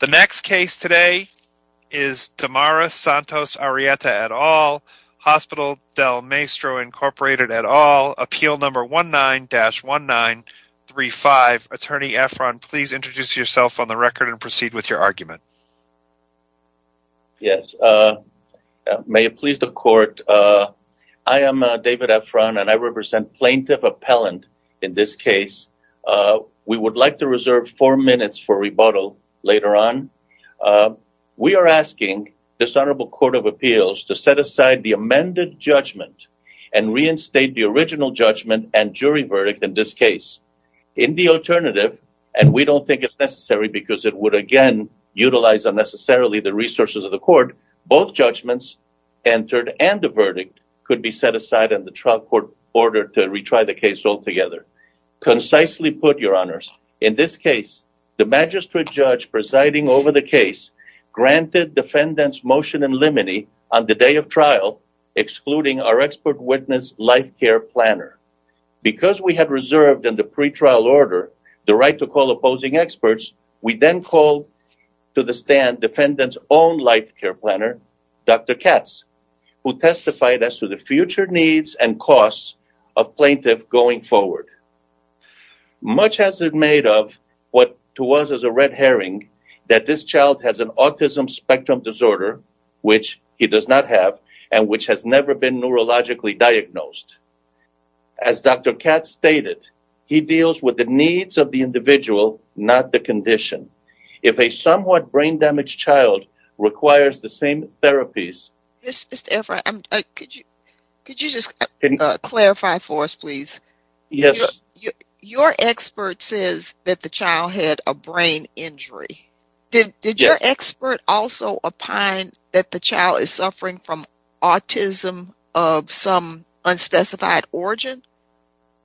The next case today is Tamara Santos-Arrieta et al., Hospital Del Maestro, Inc. et al., Appeal Number 19-1935. Attorney Efron, please introduce yourself on the record and proceed with your argument. Yes. May it please the court, I am David Efron and I represent Plaintiff Appellant in this case. Later on, we are asking this Honorable Court of Appeals to set aside the amended judgment and reinstate the original judgment and jury verdict in this case. In the alternative, and we don't think it's necessary because it would again utilize unnecessarily the resources of the court, both judgments entered and the verdict could be set aside and the trial court ordered to retry the case altogether. Concisely put, Your Honors, in this case, the magistrate judge presiding over the case granted defendant's motion in limine on the day of trial, excluding our expert witness life care planner. Because we had reserved in the pretrial order the right to call opposing experts, we then called to the stand defendant's own life care planner, Dr. Katz, who testified as to the future needs and costs of plaintiff going forward. Much has it made of what to us is a red herring that this child has an autism spectrum disorder, which he does not have, and which has never been neurologically diagnosed. As Dr. Katz stated, he deals with the needs of the individual, not the condition. If a somewhat brain damaged child requires the same therapies... Mr. Everett, could you just clarify for us, please? Your expert says that the child had a brain injury. Did your expert also opine that the child is suffering from autism of some unspecified origin?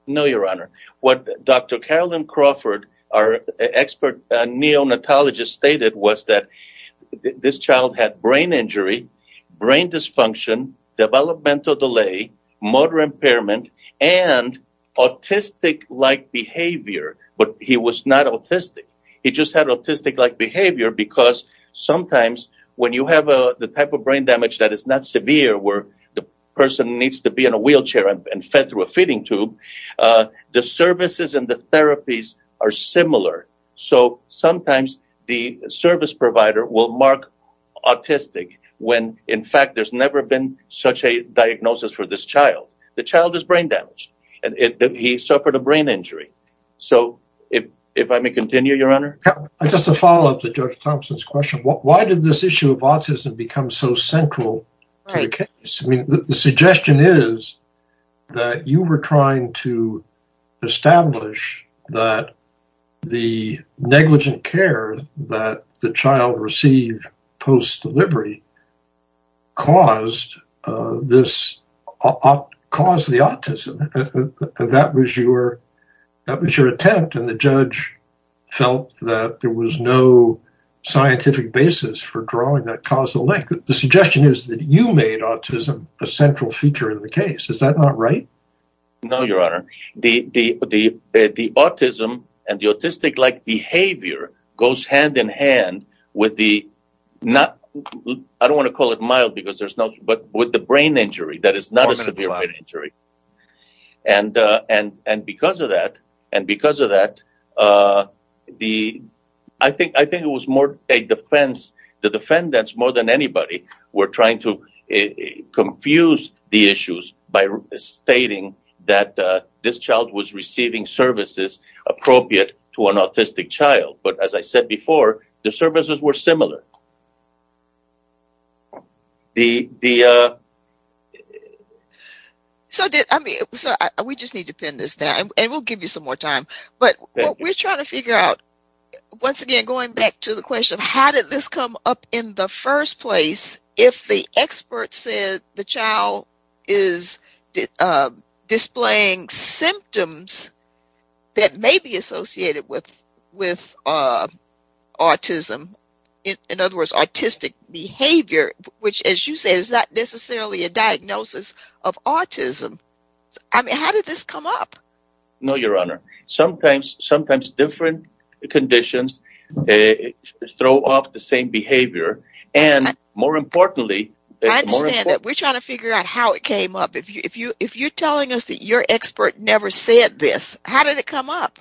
No, Your Honor. What Dr. Carolyn Crawford, our expert neonatologist, stated was that this child had brain injury, brain dysfunction, developmental delay, motor impairment, and autistic-like behavior, but he was not autistic. He just had autistic-like behavior because sometimes when you have the type of brain damage that is not severe where the person needs to be in a wheelchair and fed through a feeding tube, the services and the therapies are similar. So sometimes the service provider will mark autistic when, in fact, there's never been such a diagnosis for this child. The child is brain damaged, and he suffered a brain injury. So if I may continue, Your Honor? Just to follow up to Judge Thompson's question, why did this issue of autism become so central to the case? The suggestion is that you were trying to establish that the negligent care that the child received post-delivery caused the autism. That was your attempt, and the judge felt that there was no scientific basis for drawing that causal link. The suggestion is that you made autism a central feature of the case. Is that not right? No, Your Honor. The autism and the autistic-like behavior goes hand in hand with the, I don't want to call it mild because there's no, but with the brain injury that is not a severe brain injury. And because of that, I think it was more a defense, the defendants more than anybody, were trying to confuse the issues by stating that this child was receiving services appropriate to an autistic child. But as I said before, the services were similar. We just need to pin this down, and we'll give you some more time. But we're trying to figure out, once again, going back to the question of how did this come up in the first place if the expert said the child is displaying symptoms that may be associated with autism, in other words, autistic behavior, which as you said, is not necessarily a diagnosis of autism. I mean, how did this come up? No, Your Honor. Sometimes different conditions throw off the same behavior. And more importantly... I understand that. We're trying to figure out how it came up. If you're telling us that your expert never said this, how did it come up?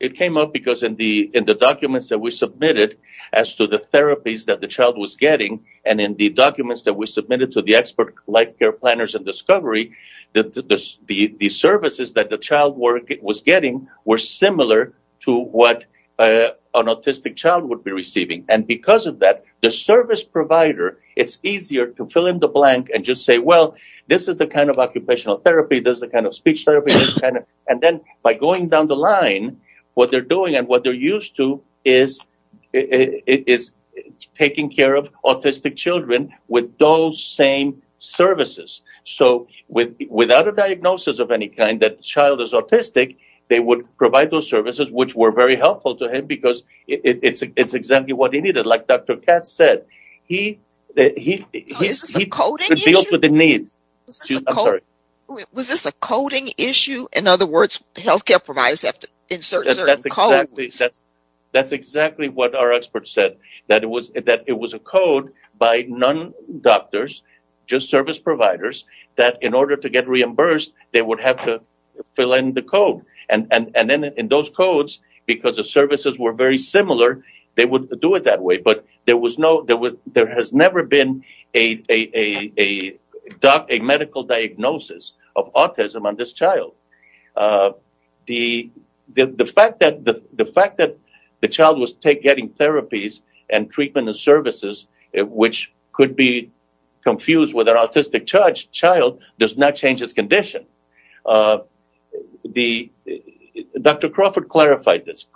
It came up because in the documents that we submitted as to the therapies that the child was getting, and in the documents that we submitted to the expert life care planners and discovery, the services that the child was getting were similar to what an autistic child would be receiving. And because of that, the service provider, it's easier to fill in the blank and just say, well, this is the kind of occupational therapy, this is the kind of speech therapy, and then by going down the line, what they're doing and what So without a diagnosis of any kind that child is autistic, they would provide those services, which were very helpful to him because it's exactly what he needed. Like Dr. Katz said, he could deal with the needs. Was this a coding issue? In other words, health care providers have to insert certain codes? That's exactly what our expert said, that it was a code by non-doctors, just service providers, that in order to get reimbursed, they would have to fill in the code. And then in those codes, because the services were very similar, they would do it that way. But there has never been a medical diagnosis of autism on this child. The fact that the child was getting therapies and treatment and services, which could be charged, the child does not change his condition. Dr. Crawford clarified this.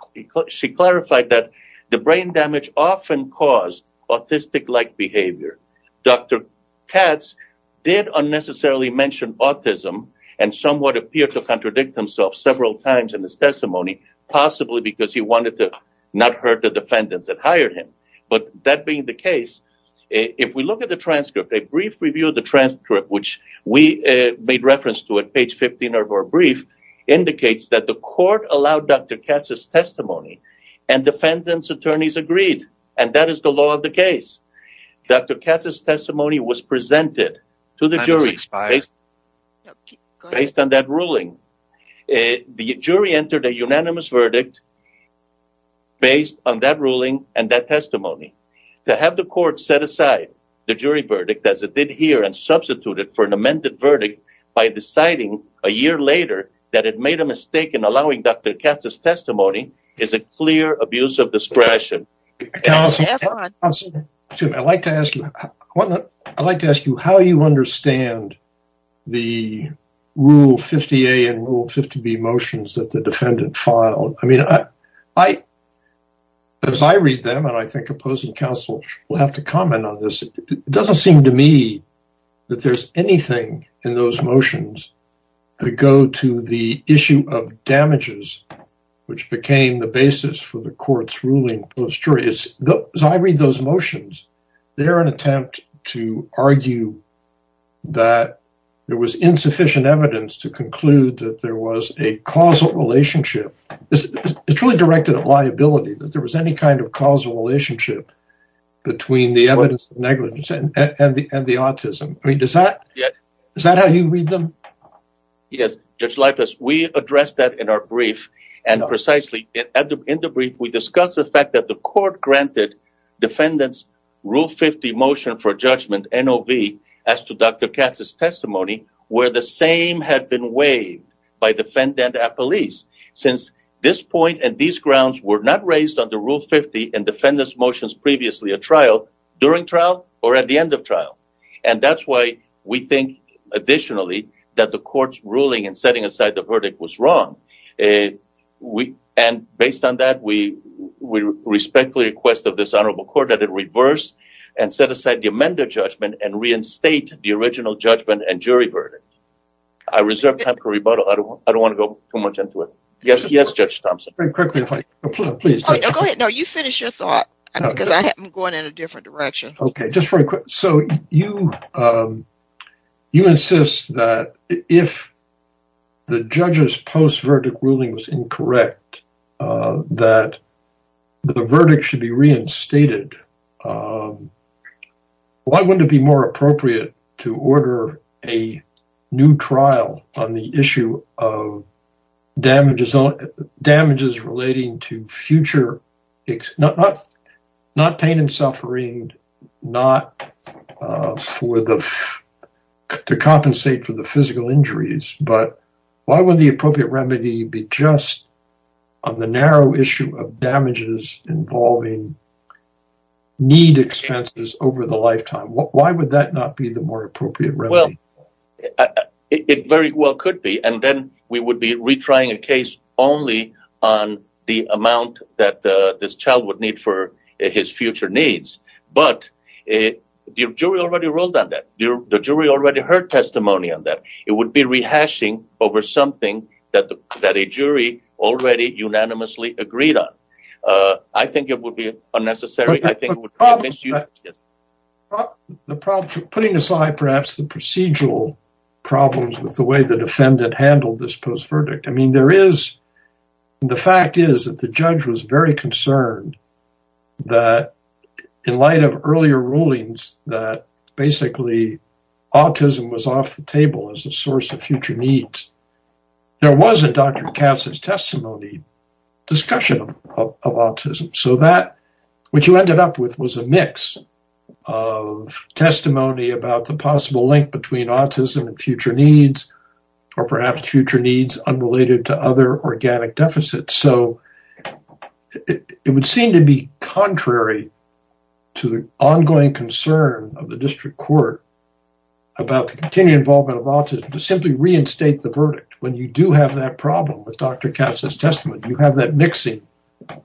She clarified that the brain damage often caused autistic-like behavior. Dr. Katz did unnecessarily mention autism and somewhat appeared to contradict himself several times in his testimony, possibly because he wanted to not hurt the defendants that hired him. But that being the case, if brief review of the transcript, which we made reference to at page 15 of our brief, indicates that the court allowed Dr. Katz's testimony and defendants' attorneys agreed. And that is the law of the case. Dr. Katz's testimony was presented to the jury based on that ruling. The jury entered a unanimous verdict based on that ruling and that testimony. To have the court set aside the jury verdict as it did here and substitute it for an amended verdict by deciding a year later that it made a mistake in allowing Dr. Katz's testimony is a clear abuse of discretion. Counsel, I'd like to ask you, how do you understand the Rule 50A and Rule 50B motions that the defendant filed? As I read them, and I think opposing counsel will have to comment on this, it doesn't seem to me that there's anything in those motions that go to the issue of damages, which became the basis for the court's ruling. As I read those motions, they're an attempt to argue that there was insufficient evidence to conclude that there was a causal relationship. It's really directed at liability that there was any kind of causal relationship between the evidence of negligence and the autism. I mean, is that how you read them? Yes, Judge Leifess, we addressed that in our brief. And precisely in the brief, we discussed the fact that the court granted defendants' Rule 50 motion for judgment, NOV, as to Dr. Katz's testimony. The court had been waived by the defendant and police, since this point and these grounds were not raised under Rule 50 in defendants' motions previously at trial, during trial, or at the end of trial. And that's why we think, additionally, that the court's ruling in setting aside the verdict was wrong. And based on that, we respectfully request of this honorable court that it reverse and set aside the amended judgment and reinstate the original judgment and jury verdict. I reserve time for rebuttal. I don't want to go too much into it. Yes, Judge Thompson. Go ahead. No, you finish your thought, because I'm going in a different direction. Okay, just very quick. So you insist that if the judge's post-verdict ruling was incorrect, that the verdict should be reinstated. Why wouldn't it be more appropriate to order a new trial on the issue of damages relating to future, not pain and suffering, not to compensate for the narrow issue of damages involving need expenses over the lifetime? Why would that not be the more appropriate remedy? Well, it very well could be. And then we would be retrying a case only on the amount that this child would need for his future needs. But the jury already ruled on that. The jury already heard testimony on that. It would be rehashing over something that a jury already unanimously agreed on. I think it would be unnecessary. But the problem, putting aside perhaps the procedural problems with the way the defendant handled this post-verdict, I mean, there is, the fact is that the judge was very concerned that in light of earlier rulings, that basically autism was off the table as a source of future needs, there wasn't, Dr. Kass's testimony, discussion of autism. So that, what you ended up with was a mix of testimony about the possible link between autism and future needs, or perhaps future needs unrelated to other organic deficits. So it would seem to be contrary to the ongoing concern of the district court about the continued involvement of autism to simply reinstate the verdict. When you do have that problem with Dr. Kass's testimony, you have that mixing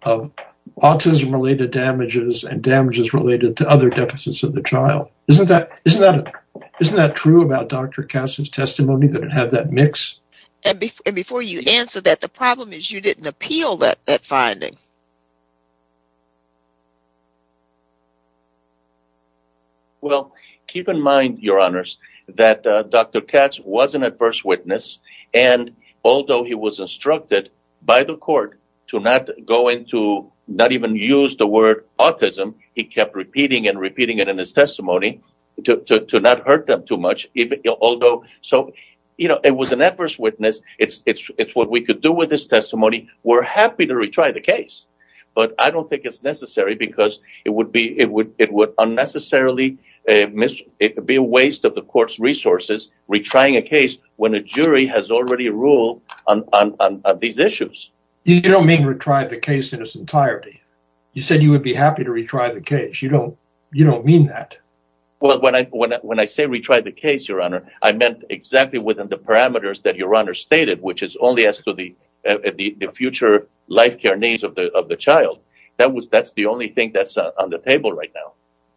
of autism-related damages and damages related to other deficits of the child. Isn't that true about Dr. Kass's testimony, that it had that mix? And before you answer that, the problem is you didn't appeal that finding. Well, keep in mind, Your Honors, that Dr. Kass was an adverse witness, and although he was instructed by the court to not go into, not even use the word autism, he kept repeating and repeating it in his testimony to not hurt them too much, although, so, you know, it was an adverse witness. It's what we could do with this testimony. We're happy to miss it. It would be a waste of the court's resources retrying a case when a jury has already ruled on these issues. You don't mean retry the case in its entirety. You said you would be happy to retry the case. You don't mean that. Well, when I say retry the case, Your Honor, I meant exactly within the parameters that Your Honor stated, which is only as to the future life care needs of the child. That's the only thing on the table right now,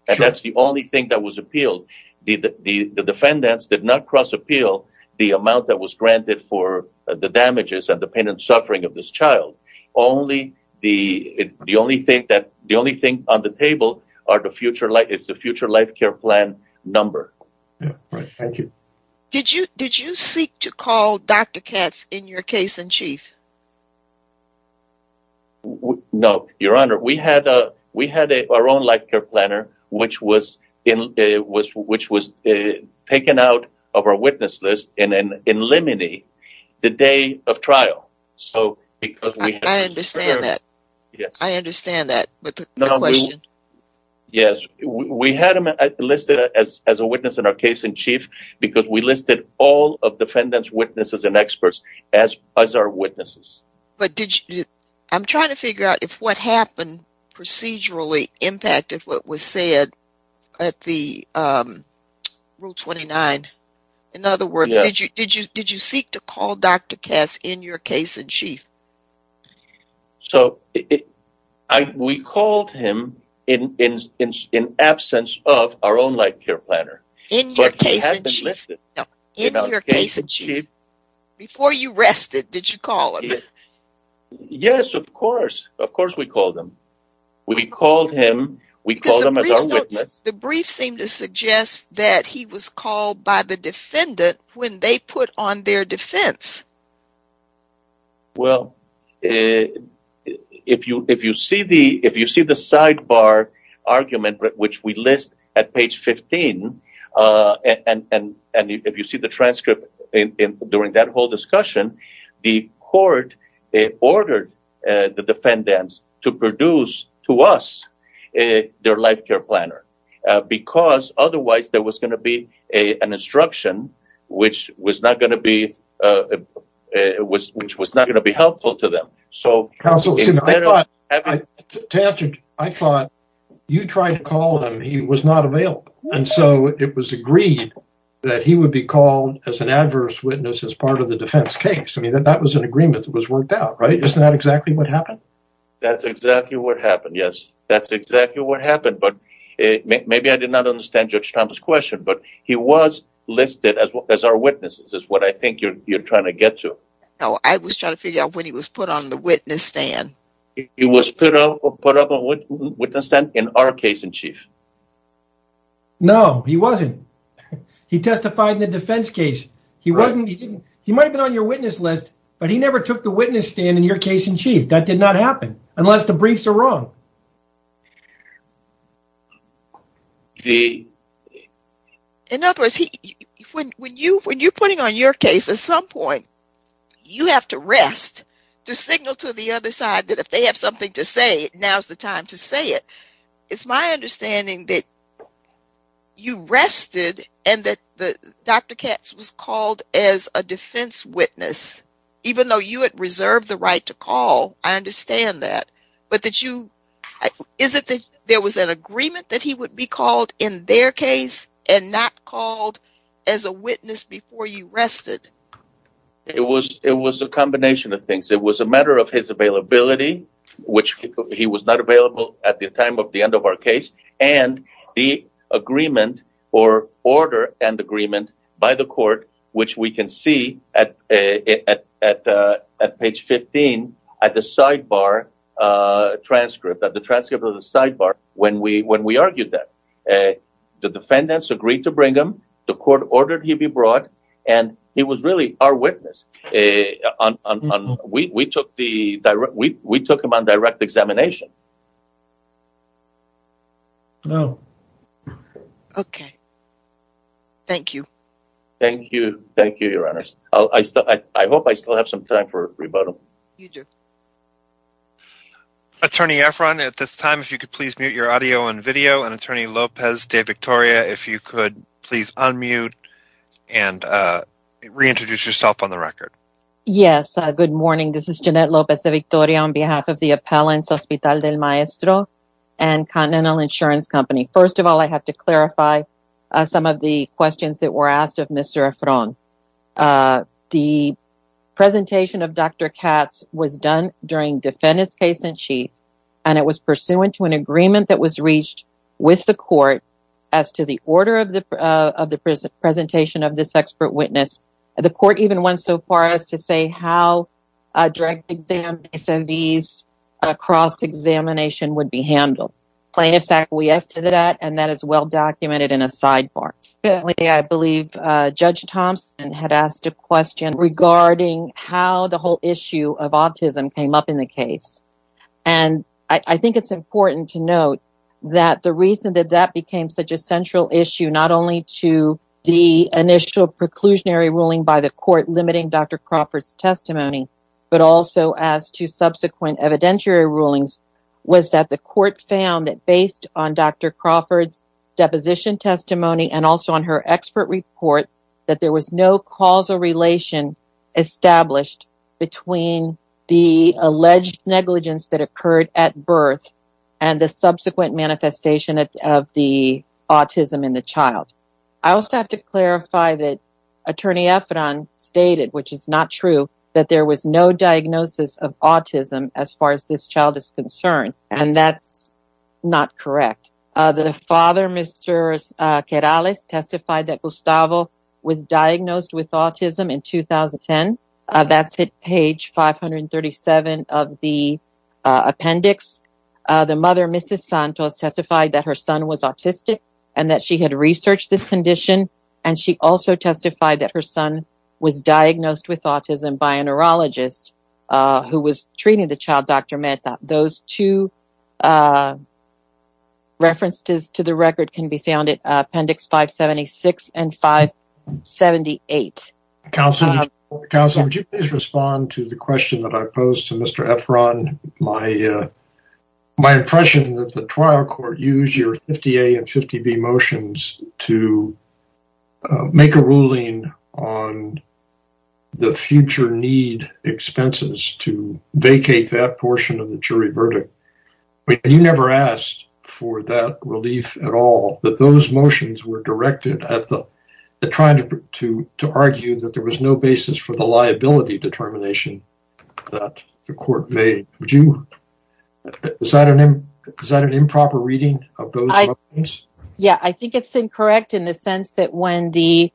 and that's the only thing that was appealed. The defendants did not cross appeal the amount that was granted for the damages and the pain and suffering of this child. Only on the table is the future life care plan number. Thank you. Did you seek to call Dr. Kass in your case-in-chief? No, Your Honor. We had our own life care planner, which was taken out of our witness list and then in limine the day of trial. I understand that. I understand that, but the question. Yes, we had him listed as a witness in our case-in-chief because we listed all of defendants, witnesses, and experts as our witnesses. I'm trying to figure out if what happened procedurally impacted what was said at Rule 29. In other words, did you seek to call Dr. Kass in your case-in-chief? We called him in absence of our own life care planner. In your case-in-chief? In your case-in-chief. Before you rested, did you call him? Yes, of course. Of course we called him. We called him as our witness. The brief seemed to suggest that he was called by the defendant when they put on their defense. Well, if you see the sidebar argument, which we list at page 15, and if you see the transcript during that whole discussion, the court ordered the defendants to produce to us their life care planner because otherwise there was going to be an instruction which was not going to be helpful to them. I thought you tried to call him. He was not available, and so it was agreed that he would be called as an adverse witness as part of the defense case. That was an agreement that was worked out, right? Isn't that exactly what happened? That's exactly what happened, yes. That's exactly what happened. Maybe I did not understand Judge Listed as our witnesses is what I think you're trying to get to. No, I was trying to figure out when he was put on the witness stand. He was put up on the witness stand in our case-in-chief. No, he wasn't. He testified in the defense case. He might have been on your witness list, but he never took the witness stand in your case-in-chief. That did not happen, unless the briefs are wrong. In other words, when you're putting on your case, at some point you have to rest to signal to the other side that if they have something to say, now's the time to say it. It's my understanding that you rested and that Dr. Katz was called as a defense witness, even though you had reserved the right to call. I understand that, but is it that there was an agreement that he would be called in their case and not called as a witness before you rested? It was a combination of things. It was a matter of his availability, which he was not available at the time of the end of our case, and the agreement, or order and agreement, by the court, which we can see at page 15 at the sidebar transcript, at the transcript of the sidebar, when we argued that. The defendants agreed to bring him, the court ordered he be brought, and he was really our witness. We took him on direct examination. Oh, okay. Thank you. Thank you. Thank you, Your Honors. I hope I still have some time for rebuttal. You do. Attorney Efron, at this time, if you could please mute your audio and video, and Attorney Lopez de Victoria, if you could please unmute and reintroduce yourself on the record. Yes, good morning. This is Jeanette Lopez de Victoria on behalf of the Appellants Hospital del Maestro and Continental Insurance Company. First of all, I have to clarify some of the questions that were asked of Mr. Efron. The presentation of Dr. Katz was done during defendant's case in chief, and it was pursuant to an agreement that was reached with the court as to the order of the presentation of this expert witness. The court even went so far as to say how a direct exam, SMVs, cross-examination would be handled. Plaintiffs acquiesced to that, and that is well-documented in a sidebar. I believe Judge Thompson had asked a question regarding how the whole issue of autism came up in the case. I think it's important to note that the reason that that became such a central issue, not only to the initial preclusionary ruling by the court limiting Dr. Crawford's testimony, but also as to subsequent evidentiary rulings, was that the court found that based on Dr. Crawford's deposition testimony and also on her expert report, that there was no causal relation established between the alleged negligence that occurred at birth and the subsequent manifestation of the autism in the child. I also have to clarify that Attorney Efron stated, which is not true, that there was no diagnosis of autism as far as this child is concerned, and that's not correct. The father, Mr. Querales, testified that Gustavo was diagnosed with autism in 2010. That's at page 537 of the appendix. The mother, Mrs. Santos, testified that her son was autistic and that she had researched this condition, and she also testified that her son was diagnosed with autism by a neurologist who was treating the child, Dr. Mehta. Those two references to the record can be found at appendix 576 and 578. Counselor, would you please respond to the question that I posed to Mr. Efron? My impression is that the trial court used your 50A and 50B motions to make a ruling on the future need expenses to vacate that portion of the jury at all. Those motions were directed at trying to argue that there was no basis for the liability determination that the court made. Is that an improper reading of those? Yeah, I think it's incorrect in the sense that when the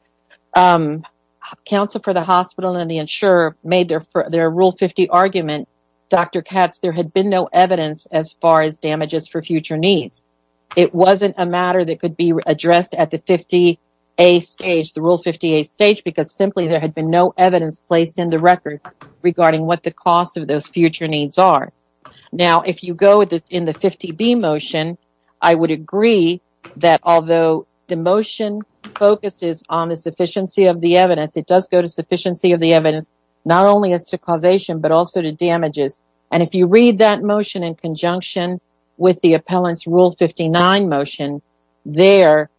counsel for the hospital and the insurer made their rule 50 argument, Dr. Katz, there had been no evidence as far as damages for future needs. It wasn't a matter that could be addressed at the 50A stage, the rule 50A stage, because simply there had been no evidence placed in the record regarding what the costs of those future needs are. Now, if you go with this in the 50B motion, I would agree that although the motion focuses on the sufficiency of the evidence, it does go to sufficiency of the evidence, not only as to causation, but also to damages. And if you read that motion in conjunction with the appellant's rule 59 motion, there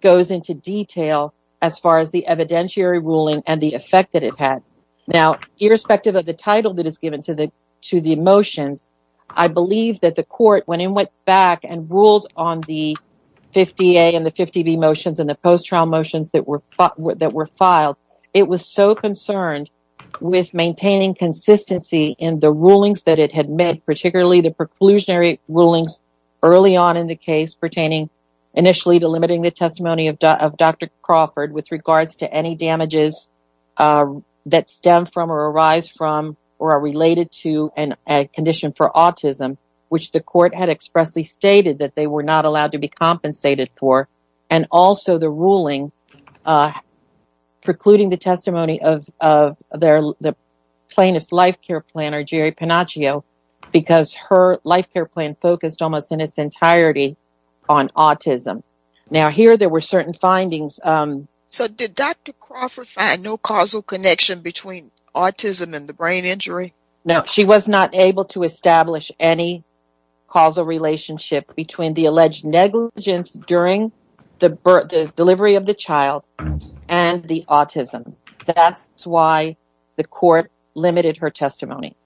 goes into detail as far as the evidentiary ruling and the effect that it had. Now, irrespective of the title that is given to the motions, I believe that the court, when it went back and ruled on the 50A and the 50B motions and the post-trial motions that were filed, it was so concerned with maintaining consistency in the rulings that had met particularly the preclusionary rulings early on in the case pertaining initially to limiting the testimony of Dr. Crawford with regards to any damages that stem from or arise from or are related to a condition for autism, which the court had expressly stated that they were not allowed to be compensated for. And also the ruling precluding the testimony of the plaintiff's life care planner, Jerry Panagio, because her life care plan focused almost in its entirety on autism. Now, here there were certain findings. So, did Dr. Crawford find no causal connection between autism and the brain injury? No, she was not able to establish any causal relationship between the alleged negligence during the delivery of the child and the autism. That's why the court limited her testimony.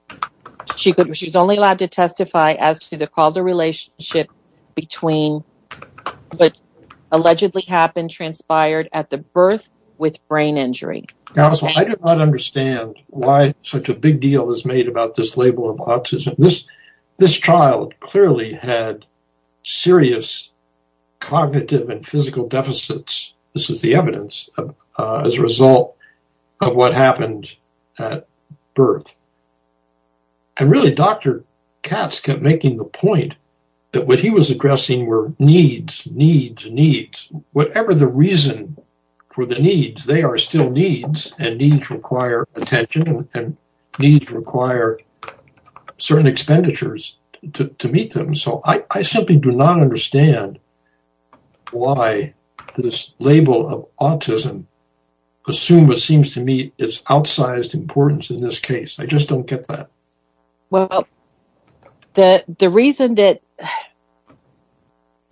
She was only allowed to testify as to the causal relationship between what allegedly happened transpired at the birth with brain injury. Counsel, I do not understand why such a big deal is made about this label of autism. This happened at birth. And really, Dr. Katz kept making the point that what he was addressing were needs, needs, needs, whatever the reason for the needs, they are still needs and needs require attention and needs require certain expenditures to meet them. So, I simply do not understand why this label of autism assumed what seems to me is outsized importance in this case. I just don't get that. Well, the reason that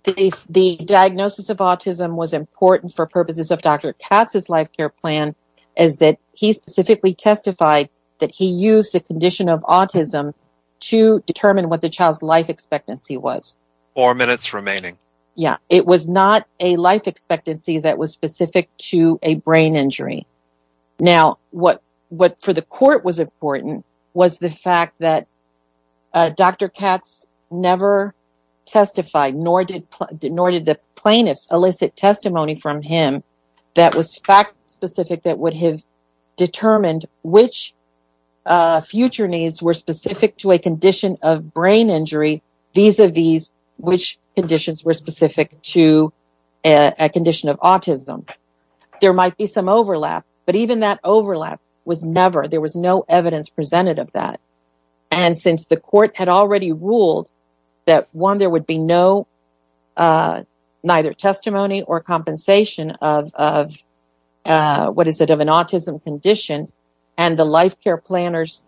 the diagnosis of autism was important for purposes of Dr. Katz's life care plan is that he specifically testified that he used the condition of autism to determine what the child's life expectancy was. Four minutes remaining. Yeah, it was not a life expectancy that was specific to a brain injury. Now, what for the court was important was the fact that Dr. Katz never testified, nor did the plaintiffs elicit testimony from him that was fact specific that would have determined which future needs were specific to a condition of brain injury, vis-a-vis which conditions were specific to a condition of autism. There might be some overlap, but even that overlap was never, there was no evidence presented of that. And since the court had already ruled that one, there would be no, neither testimony or of an autism condition and the life care planner's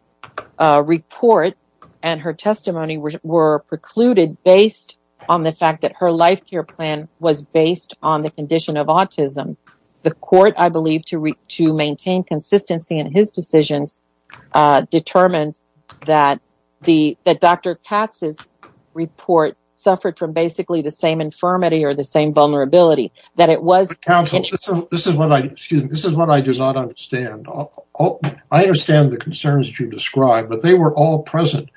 report and her testimony were precluded based on the fact that her life care plan was based on the condition of autism. The court, I believe, to maintain consistency in his decisions, determined that Dr. Katz's report suffered from basically the same infirmity or the same vulnerability. But counsel, this is what I do not understand. I understand the concerns that you've described, but they were all present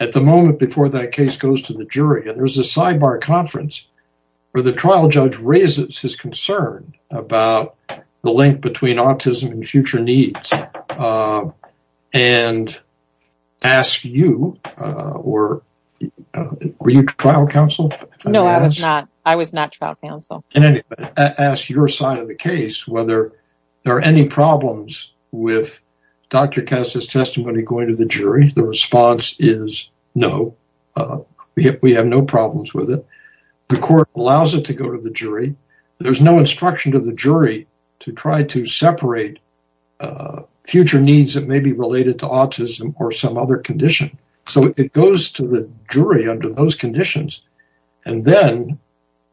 at the moment before that case goes to the jury. And there's a sidebar conference where the trial judge raises his concern about the link between autism and future needs and ask you, or were you trial counsel? No, I was not. I was not trial counsel. And ask your side of the case, whether there are any problems with Dr. Katz's testimony going to the jury. The response is no, we have no problems with it. The court allows it to go to the jury. There's no instruction to the jury to try to separate future needs that may be related to autism or some other condition. So it goes to the jury under those conditions. And then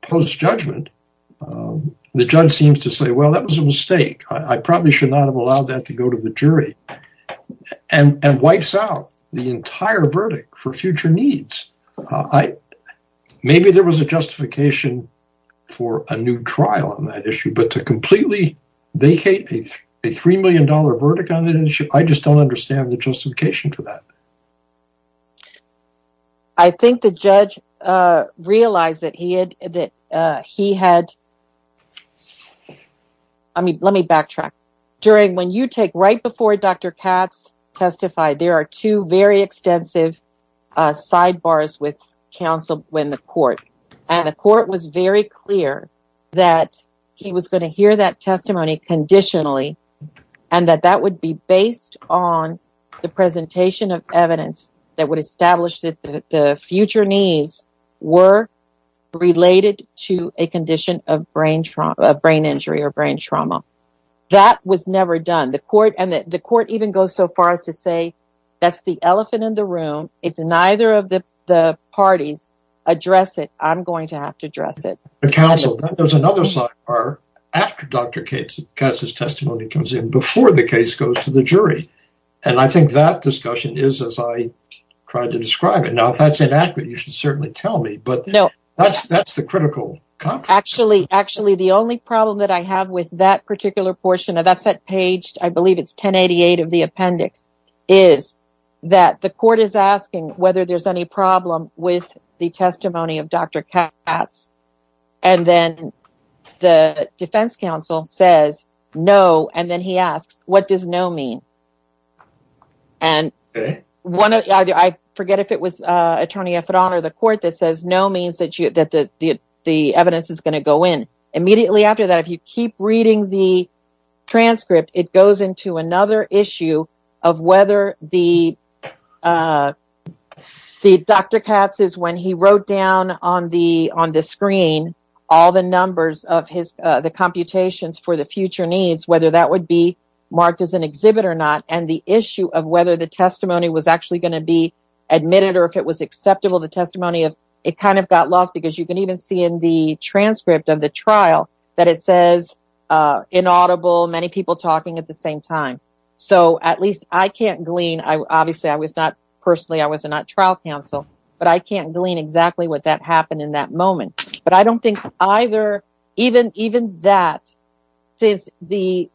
post-judgment, the judge seems to say, well, that was a mistake. I probably should not have allowed that to go to the jury and wipes out the entire verdict for future needs. Maybe there was a new trial on that issue, but to completely vacate a $3 million verdict on an issue, I just don't understand the justification for that. I think the judge realized that he had, I mean, let me backtrack. During when you take, right before Dr. Katz testified, there are two very extensive sidebars with counsel when the that he was going to hear that testimony conditionally. And that that would be based on the presentation of evidence that would establish that the future needs were related to a condition of brain injury or brain trauma. That was never done. And the court even goes so far as to say, that's the elephant in the room. If neither of the parties address it, I'm going to have to address it. There's another sidebar after Dr. Katz's testimony comes in before the case goes to the jury. And I think that discussion is as I tried to describe it. Now, if that's inaccurate, you should certainly tell me, but that's the critical. Actually, the only problem that I have with that particular portion of that set page, I believe it's 1088 of the appendix is that the court is asking whether there's any problem with the testimony of Dr. Katz. And then the defense counsel says, no. And then he asks, what does no mean? And one of the, I forget if it was a attorney, if it honor the court that says no means that you, that the, the, the evidence is going to go in immediately after that. If you keep reading the transcript, it goes into another issue of whether the, the Dr. Katz is when he wrote down on the, on the screen, all the numbers of his, the computations for the future needs, whether that would be marked as an exhibit or not. And the issue of whether the testimony was actually going to be admitted, or if it was acceptable, the testimony of it kind of got lost because you can even see in the transcript of the trial that it says inaudible, many people talking at the same time. So at least I can't glean. I obviously I was not personally, I was not trial counsel, but I can't glean exactly what that happened in that moment. But I don't think either, even, even that says the,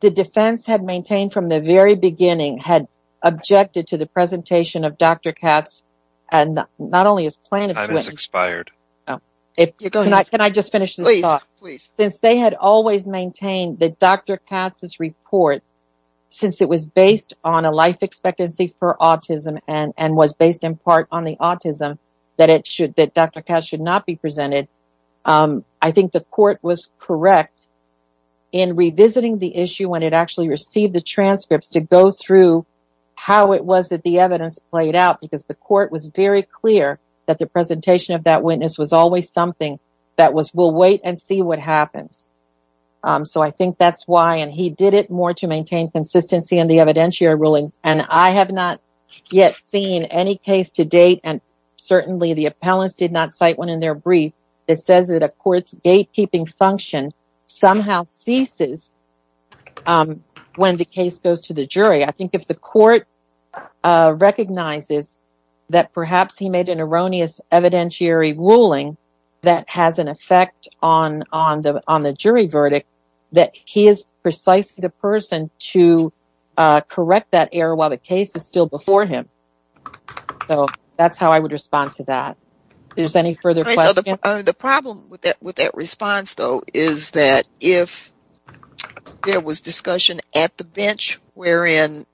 the defense had maintained from the very beginning had objected to the Can I just finish this thought? Please, please. Since they had always maintained that Dr. Katz's report, since it was based on a life expectancy for autism and, and was based in part on the autism that it should, that Dr. Katz should not be presented. I think the court was correct in revisiting the issue when it actually received the transcripts to go through how it was that the evidence played out because the court was very clear that the presentation of that witness was always something that was, we'll wait and see what happens. So I think that's why, and he did it more to maintain consistency in the evidentiary rulings. And I have not yet seen any case to date. And certainly the appellants did not cite one in their brief that says that a court's gatekeeping function somehow ceases when the case goes to the jury. I think if the court recognizes that perhaps he made an erroneous evidentiary ruling that has an effect on, on the, on the jury verdict, that he is precisely the person to correct that error while the case is still before him. So that's how I would respond to that. There's any further questions? The problem with that, with that response though, is that if there was discussion at the bench, wherein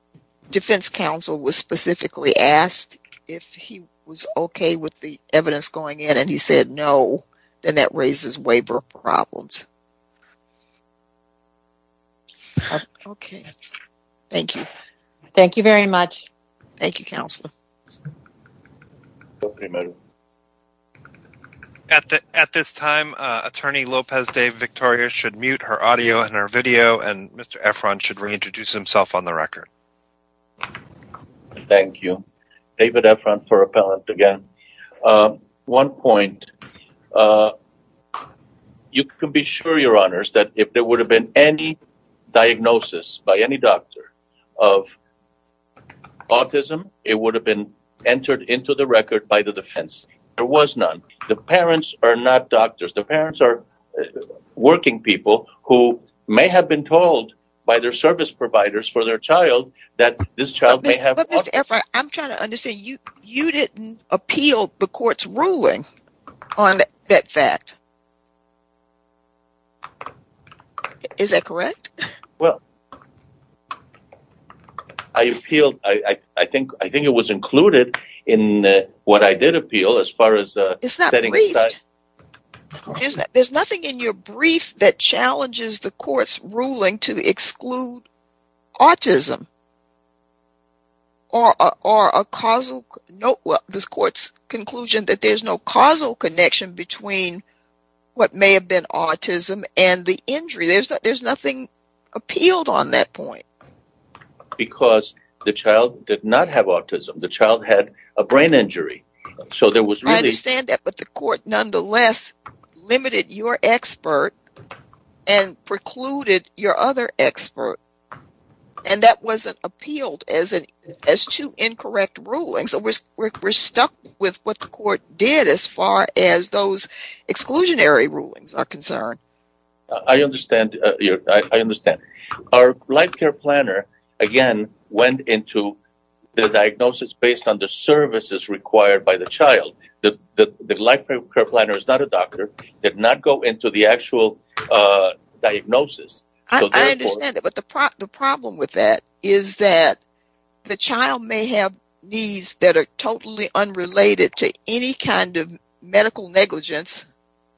defense counsel was specifically asked if he was okay with the evidence going in and he said no, then that raises waiver problems. Okay. Thank you. Thank you very much. Thank you, Counselor. At this time, Attorney Lopez Dave Victoria should mute her audio and her video and Mr. Efron should reintroduce himself on the record. Thank you, David Efron for appellant again. One point, you can be sure your honors that if there would have been any diagnosis by any doctor of autism, it would have been entered into the record by the defense. There was none. The parents are not doctors. The parents are working people who may have been told by their service providers for their child that this child may have. But Mr. Efron, I'm trying to understand, you, you didn't appeal the court's ruling on that fact. Is that correct? Well, I appealed, I think, I think it was included in what I did appeal as far as. There's nothing in your brief that challenges the court's ruling to exclude autism or a causal note. Well, this court's conclusion that there's no causal connection between what may have been autism and the injury. There's nothing appealed on that point. Because the child did not have autism. The child had a brain injury. So there was really saying that, but the court nonetheless limited your expert and precluded your other expert. And that wasn't appealed as an as to incorrect rulings. So we're stuck with what the court did, as far as those exclusionary rulings are concerned. I understand. I understand. Our life care planner, again, went into the diagnosis based on the services required by the child. The life care planner is not a doctor, did not go into the actual diagnosis. The problem with that is that the child may have needs that are totally unrelated to any kind of medical negligence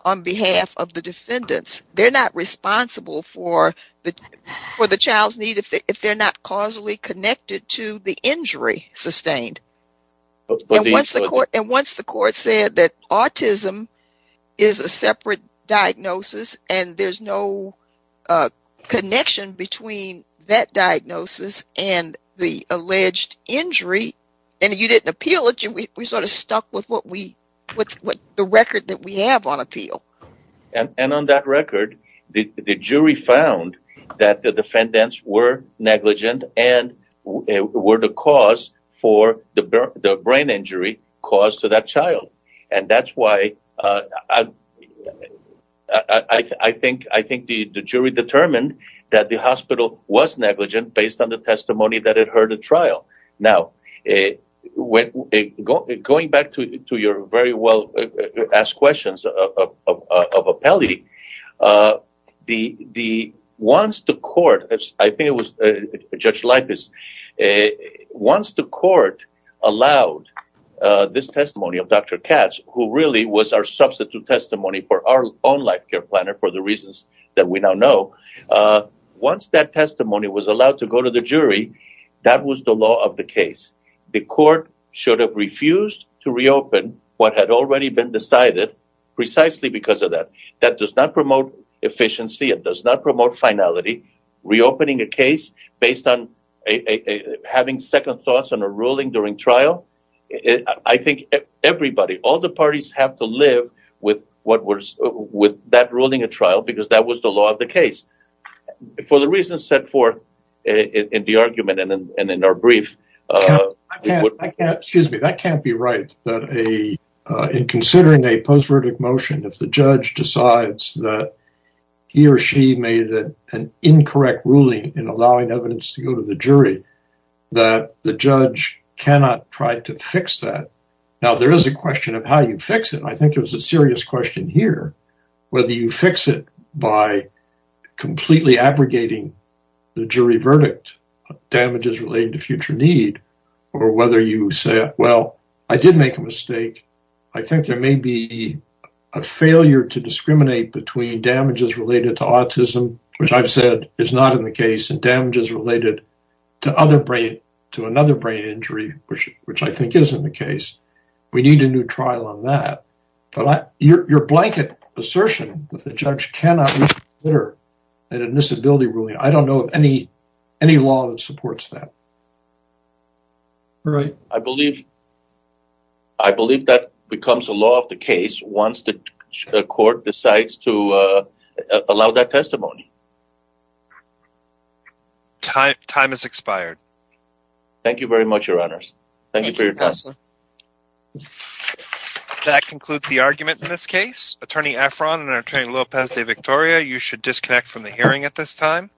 on behalf of the defendants. They're not responsible for the child's if they're not causally connected to the injury sustained. And once the court said that autism is a separate diagnosis and there's no connection between that diagnosis and the alleged injury, and you didn't appeal it, we sort of stuck with the record that we have on appeal. And on that record, the jury found that the defendants were negligent and were the cause for the brain injury caused to that child. And that's why I think the jury determined that the hospital was negligent based on the testimony that it heard at trial. Now, going back to your very well asked questions of appellee, once the court allowed this testimony of Dr. Katz, who really was our substitute testimony for our own life care planner for the reasons that we now know, once that testimony was allowed to go to the jury, that was the law of the case. The court should have refused to reopen what had already been decided precisely because of that. That does not promote efficiency. It does not promote finality. Reopening a case based on having second thoughts on a ruling during trial. I think everybody, all the parties have to live with that ruling at trial because that was the law of the case. For the reasons set forth in the argument and in our brief... Excuse me, that can't be right. In considering a post-verdict motion, if the judge decides that he or she made an incorrect ruling in allowing evidence to go to the jury, that the judge cannot try to fix that. Now, there is a question of how you fix it. I think it's a serious question here, whether you fix it by completely abrogating the jury verdict, damages related to future need, or whether you say, well, I did make a mistake. I think there may be a failure to discriminate between damages related to autism, which I've said is not in the case, and damages related to another brain injury, which I think is in the case. We need a new trial on that, but your blanket assertion that the judge cannot reconsider an admissibility ruling, I don't know of any law that supports that. I believe that becomes a law of the case once the court decides to allow that testimony. Time has expired. Thank you very much, That concludes the argument in this case. Attorney Efron and Attorney Lopez de Victoria, you should disconnect from the hearing at this time.